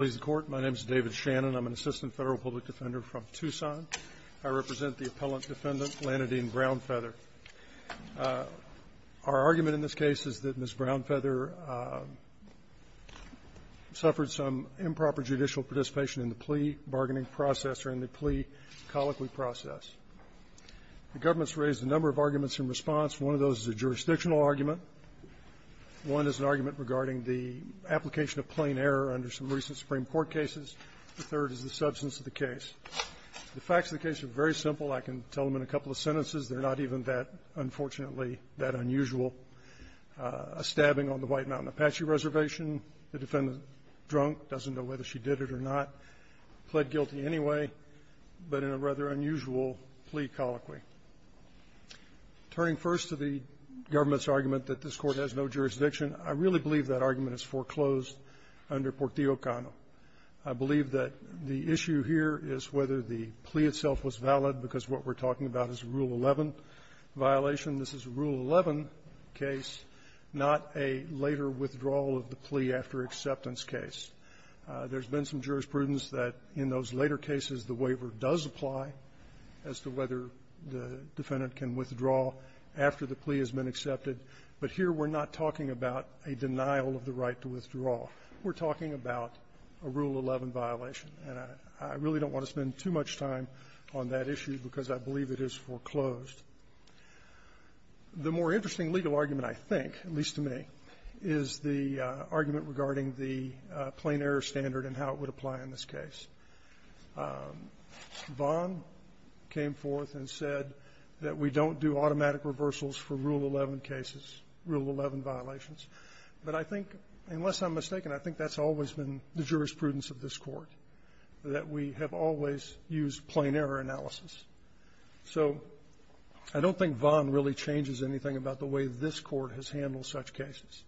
My name is David Shannon. I'm an assistant federal public defender from Tucson. I represent the appellant defendant, Lannadine Brownfeather. Our argument in this case is that Ms. Brownfeather suffered some improper judicial participation in the plea bargaining process or in the plea colloquy process. The government's raised a number of arguments in response. One of those is a jurisdictional argument. One is an argument regarding the application of plain error under some recent Supreme Court cases. The third is the substance of the case. The facts of the case are very simple. I can tell them in a couple of sentences. They're not even that, unfortunately, that unusual. A stabbing on the White Mountain Apache Reservation. The defendant, drunk, doesn't know whether she did it or not, pled guilty anyway, but in a rather unusual plea colloquy. Turning first to the government's argument that this Court has no jurisdiction, I really believe that argument is foreclosed under Portillo-Cano. I believe that the issue here is whether the plea itself was valid, because what we're talking about is a Rule 11 violation. This is a Rule 11 case, not a later withdrawal of the plea after acceptance case. There's been some jurisprudence that, in those later cases, the waiver does apply as to whether the defendant can withdraw after the plea has been accepted, but here we're not talking about a denial of the right to withdraw. We're talking about a Rule 11 violation. And I really don't want to spend too much time on that issue because I believe it is foreclosed. The more interesting legal argument, I think, at least to me, is the argument regarding the plain-error standard and how it would apply in this case. Vaughan came forth and said that we don't do automatic reversals for Rule 11 cases, Rule 11 violations. But I think, unless I'm mistaken, I think that's always been the jurisprudence of this Court, that we have always used plain-error analysis. So I don't think Vaughan really changes anything about the way this Court has handled such cases.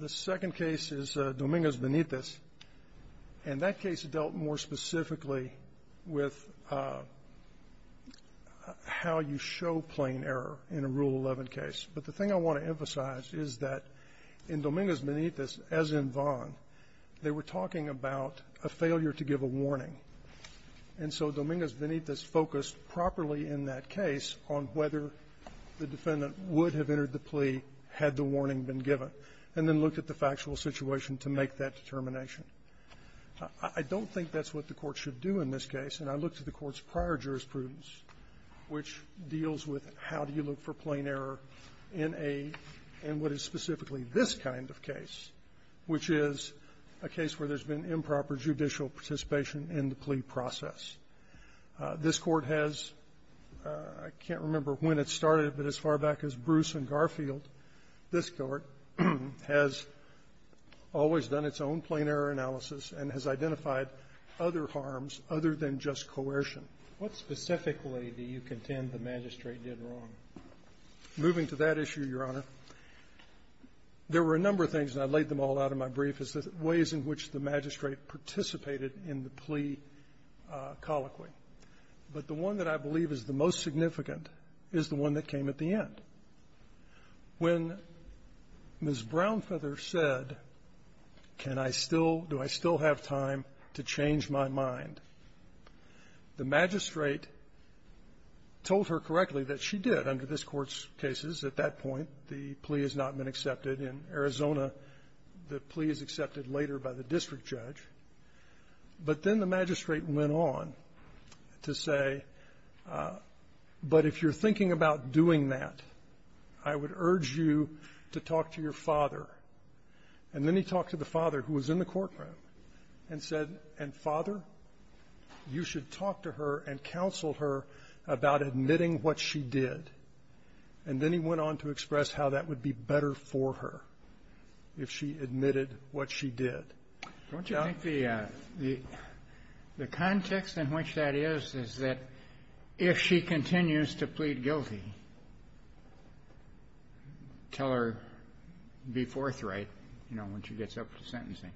The second case is Dominguez-Benitez. And that case dealt more specifically with how you show plain-error in a Rule 11 case. But the thing I want to emphasize is that in Dominguez-Benitez, as in Vaughan, they were talking about a failure to give a warning. And so Dominguez-Benitez focused properly in that case on whether the defendant would have entered the plea had the warning been given and then looked at the factual situation to make that determination. I don't think that's what the Court should do in this case. And I looked at the Court's prior jurisprudence, which deals with how do you look for plain error in a – in what is specifically this kind of case, which is a case where there's been improper judicial participation in the plea process. This Court has – I can't remember when it started, but as far back as Bruce and always done its own plain-error analysis and has identified other harms other than just coercion. What specifically do you contend the magistrate did wrong? Moving to that issue, Your Honor, there were a number of things, and I laid them all out in my brief, as ways in which the magistrate participated in the plea colloquy. But the one that I believe is the most significant is the one that came at the end. When Ms. Brownfeather said, can I still – do I still have time to change my mind, the magistrate told her correctly that she did under this Court's cases. At that point, the plea has not been accepted. In Arizona, the plea is accepted later by the district judge. But then the magistrate went on to say, but if you're thinking about doing that, I would urge you to talk to your father. And then he talked to the father, who was in the courtroom, and said, and, Father, you should talk to her and counsel her about admitting what she did. And then he went on to express how that would be better for her if she admitted what she did. Don't you think the context in which that is, is that if she continues to plead guilty, tell her, be forthright, you know, when she gets up to sentencing?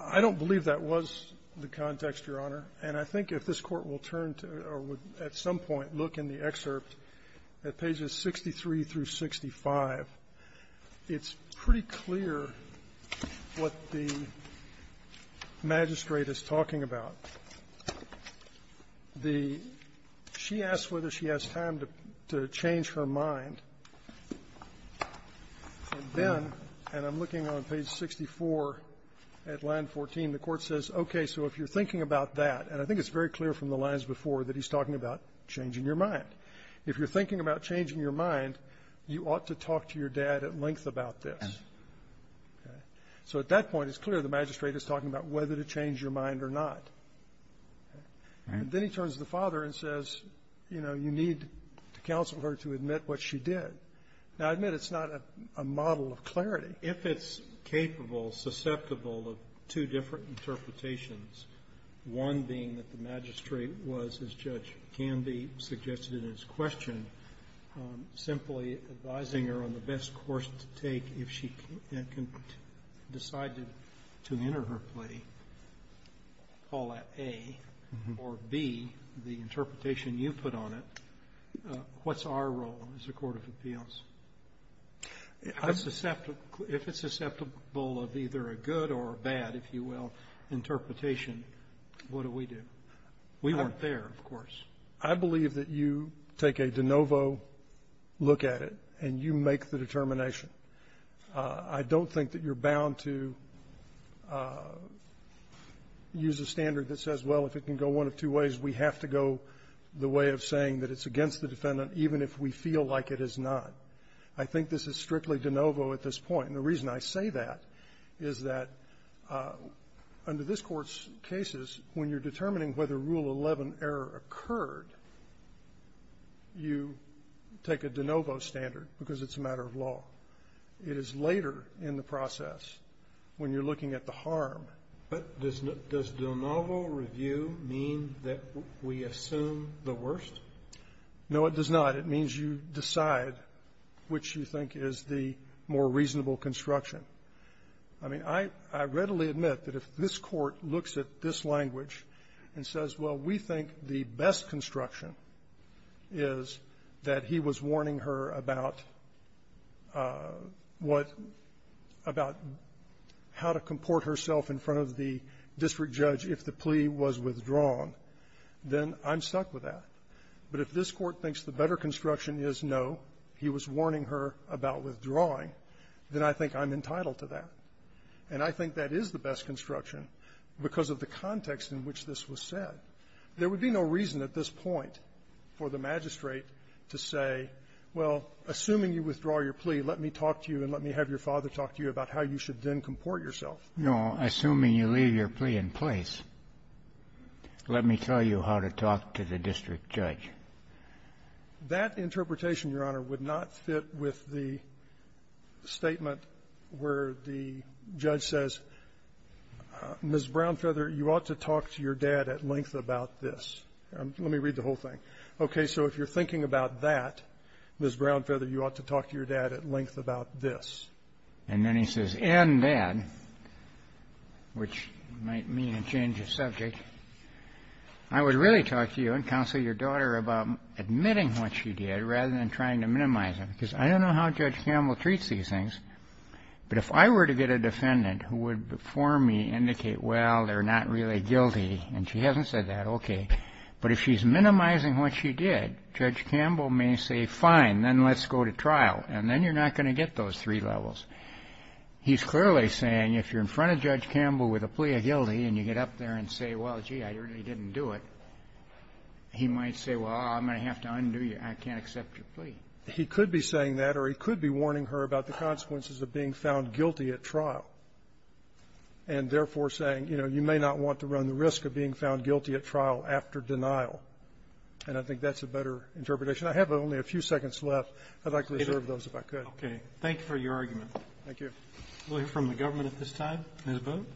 I don't believe that was the context, Your Honor. And I think if this Court will turn to or would at some point look in the excerpt at pages 63 through 65, it's pretty clear what the magistrate is talking about. So the --"she asks whether she has time to change her mind," and then, and I'm looking on page 64 at line 14, the Court says, okay, so if you're thinking about that, and I think it's very clear from the lines before that he's talking about changing your mind. If you're thinking about changing your mind, you ought to talk to your dad at length about this. Okay? So at that point, it's clear the magistrate is talking about whether to change your mind or not. And then he turns to the father and says, you know, you need to counsel her to admit what she did. Now, I admit it's not a model of clarity. If it's capable, susceptible of two different interpretations, one being that the magistrate was, as Judge Canby suggested in his question, simply advising her on the or, B, the interpretation you put on it, what's our role as a court of appeals? If it's susceptible of either a good or a bad, if you will, interpretation, what do we do? We weren't there, of course. I believe that you take a de novo look at it, and you make the determination. I don't think that you're bound to use a standard that says, well, if it can go one of two ways, we have to go the way of saying that it's against the defendant, even if we feel like it is not. I think this is strictly de novo at this point. And the reason I say that is that under this Court's cases, when you're determining whether Rule 11 error occurred, you take a de novo standard because it's a matter of law. It is later in the process when you're looking at the harm. But does de novo review mean that we assume the worst? No, it does not. It means you decide which you think is the more reasonable construction. I mean, I readily admit that if this Court looks at this language and says, well, we think the best construction is that he was warning her about what about how to comport herself in front of the district judge if the plea was withdrawn, then I'm stuck with that. But if this Court thinks the better construction is, no, he was warning her about withdrawing, then I think I'm entitled to that. And I think that is the best construction because of the context in which this was said. There would be no reason at this point for the magistrate to say, well, assuming you withdraw your plea, let me talk to you and let me have your father talk to you about how you should then comport yourself. No. Assuming you leave your plea in place, let me tell you how to talk to the district judge. And then he says, in that, which might mean a change of subject, I would really talk to you and counsel your daughter about admitting what she did rather than trying to minimize it, because I don't know how Judge Campbell treats these things. But if I were to get a defendant and I were to get a defendant and I were to get a defendant who would, before me, indicate, well, they're not really guilty, and she hasn't said that, okay, but if she's minimizing what she did, Judge Campbell may say, fine, then let's go to trial, and then you're not going to get those three levels. He's clearly saying, if you're in front of Judge Campbell with a plea of guilty and you get up there and say, well, gee, I really didn't do it, he might say, well, I'm going to have to undo you. I can't accept your plea. He could be saying that, or he could be warning her about the consequences of being found guilty at trial and, therefore, saying, you know, you may not want to run the risk of being found guilty at trial after denial. And I think that's a better interpretation. I have only a few seconds left. I'd like to reserve those if I could. Roberts. Thank you for your argument. Thank you. We'll hear from the government at this time. Ms. Boone.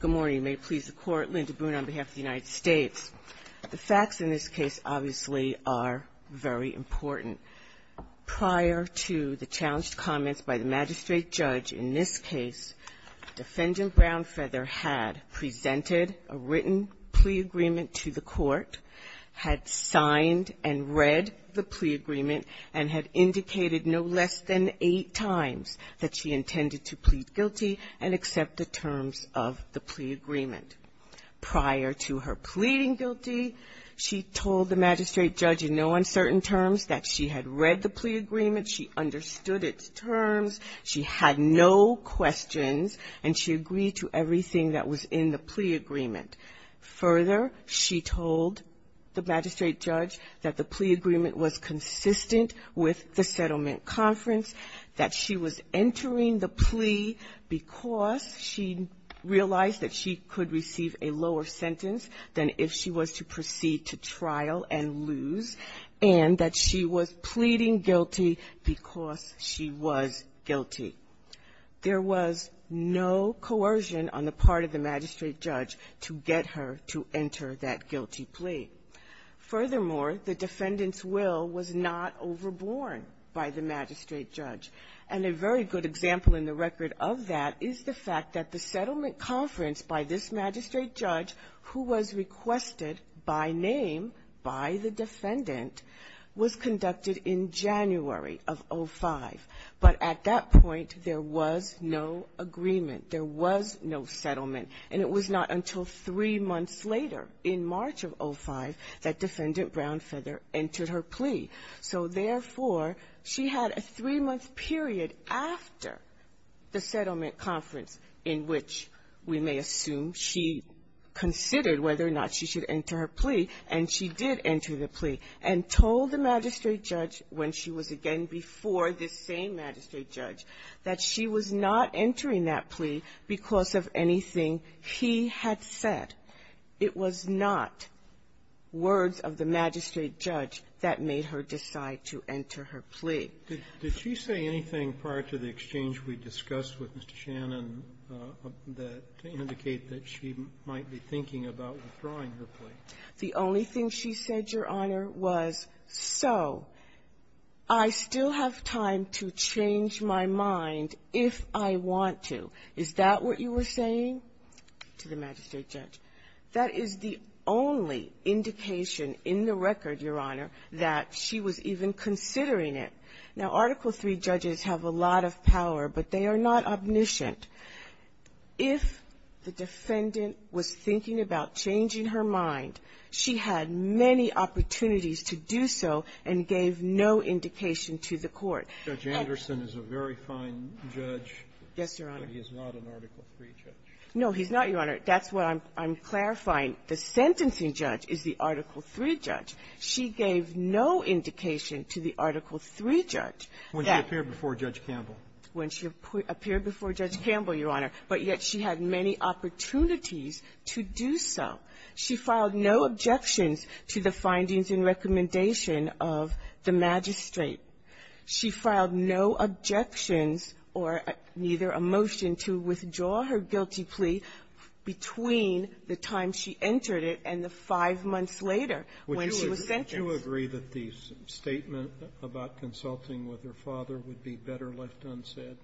Good morning. May it please the Court. Linda Boone on behalf of the United States. The facts in this case obviously are very important. Prior to the challenged comments by the magistrate judge in this case, Defendant Brownfeather had presented a written plea agreement to the Court, had signed and read the plea agreement, and had indicated no less than eight times that she intended to plead guilty and accept the terms of the plea agreement. Prior to her pleading guilty, she told the magistrate judge in no uncertain terms that she had read the plea agreement, she understood its terms, she had no questions, and she agreed to everything that was in the plea agreement. Further, she told the magistrate judge that the plea agreement was consistent with the settlement conference, that she was entering the plea because she realized that she could receive a lower sentence than if she was to proceed to trial and lose, and that she was pleading guilty because she was guilty. There was no coercion on the part of the magistrate judge to get her to enter that guilty plea. Furthermore, the defendant's will was not overborne by the magistrate judge. And a very good example in the record of that is the fact that the settlement conference by this magistrate judge, who was requested by name by the defendant, was conducted in January of 05. But at that point, there was no agreement. There was no settlement. And it was not until three months later, in March of 05, that Defendant Brownfeather entered her plea. So, therefore, she had a three-month period after the settlement conference in which we may assume she considered whether or not she should enter her plea, and she did enter the plea, and told the magistrate judge, when she was again before this same magistrate judge, that she was not entering that plea because of anything he had said. It was not words of the magistrate judge that made her decide to enter her plea. Did she say anything prior to the exchange we discussed with Mr. Shannon that indicate that she might be thinking about withdrawing her plea? The only thing she said, Your Honor, was, so, I still have time to change my mind if I want to. Is that what you were saying to the magistrate judge? That is the only indication in the record, Your Honor, that she was even considering it. Now, Article III judges have a lot of power, but they are not omniscient. If the defendant was thinking about changing her mind, she had many opportunities to do so and gave no indication to the Court. And the court was not able to change her mind. Roberts. Judge Anderson is a very fine judge. Yes, Your Honor. But he is not an Article III judge. No, he's not, Your Honor. That's what I'm clarifying. The sentencing judge is the Article III judge. She gave no indication to the Article III judge. When she appeared before Judge Campbell. When she appeared before Judge Campbell, Your Honor. But yet she had many opportunities to do so. She filed no objections to the findings and recommendation of the magistrate. She filed no objections or neither a motion to withdraw her guilty plea between the time she entered it and the five months later when she was sentenced. Would you agree that the statement about consulting with her father would be better left unsaid?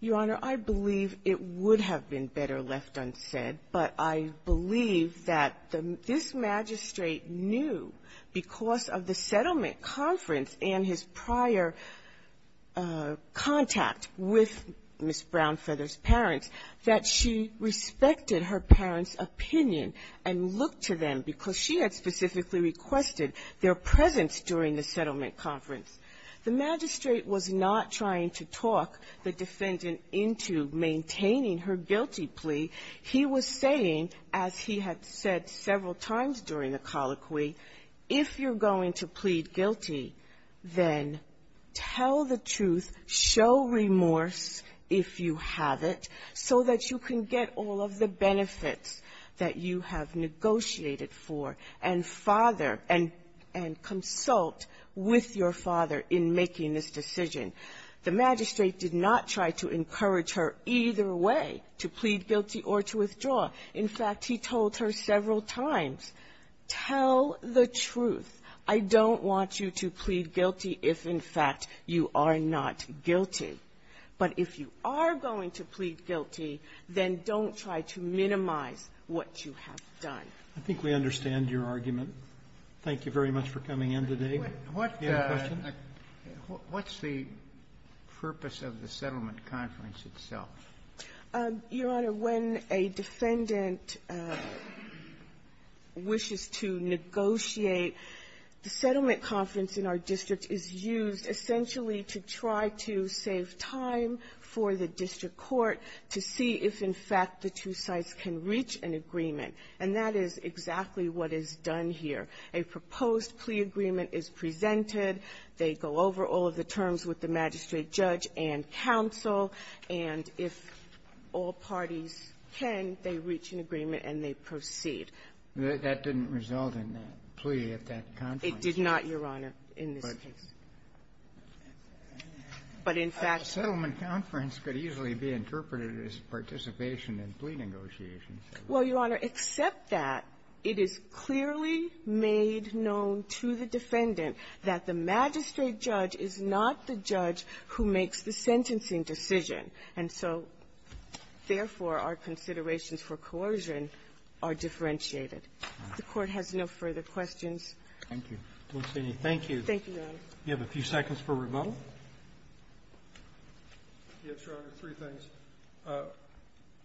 Your Honor, I believe it would have been better left unsaid, but I believe that this magistrate knew, because of the settlement conference and his prior contact with Ms. Brownfeather's parents, that she respected her parents' opinion and looked to them because she had specifically requested their presence during the settlement conference. The magistrate was not trying to talk the defendant into maintaining her guilty plea. He was saying, as he had said several times during the colloquy, if you're going to plead guilty, then tell the truth, show remorse if you have it, so that you can get all of the benefits that you have negotiated for and father and consult with your father in making this decision. The magistrate did not try to encourage her either way, to plead guilty or to withdraw. In fact, he told her several times, tell the truth. I don't want you to plead guilty if, in fact, you are not guilty. But if you are going to plead guilty, then don't try to minimize what you have done. Roberts, I think we understand your argument. Thank you very much for coming in today. What's the purpose of the settlement conference itself? Your Honor, when a defendant wishes to negotiate, the settlement conference in our district is used essentially to try to save time for the district court to see if, in fact, the two sides can reach an agreement. And that is exactly what is done here. A proposed plea agreement is presented. They go over all of the terms with the magistrate, judge, and counsel. And if all parties can, they reach an agreement and they proceed. That didn't result in a plea at that conference. It did not, Your Honor, in this case. But in fact the settlement conference could easily be interpreted as participation in plea negotiations. Well, Your Honor, except that, it is clearly made known to the defendant that the magistrate judge is not the judge who makes the sentencing decision. And so, therefore, our considerations for coercion are differentiated. The Court has no further questions. Thank you. Thank you. Thank you, Your Honor. You have a few seconds for rebuttal. Yes, Your Honor, three things. First,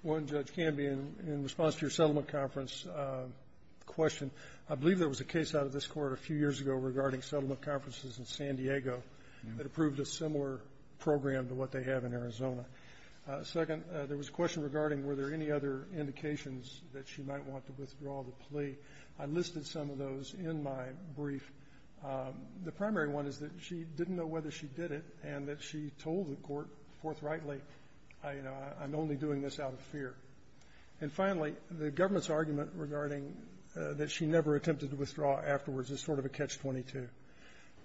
one, Judge Canby, in response to your settlement conference question, I believe there was a case out of this Court a few years ago regarding settlement conferences in San Diego that approved a similar program to what they have in Arizona. Second, there was a question regarding were there any other indications that she might want to withdraw the plea. I listed some of those in my brief. The primary one is that she didn't know whether she did it and that she told the Court forthrightly, you know, I'm only doing this out of fear. And finally, the government's argument regarding that she never attempted to withdraw afterwards is sort of a catch-22.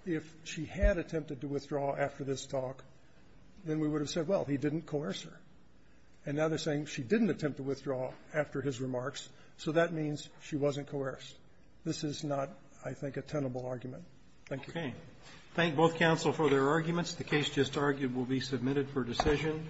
If she had attempted to withdraw after this talk, then we would have said, well, he didn't coerce her. And now they're saying she didn't attempt to withdraw after his remarks, so that means she wasn't coerced. This is not, I think, a tenable argument. Thank you. Okay. Thank both counsel for their arguments. The case just argued will be submitted for decision.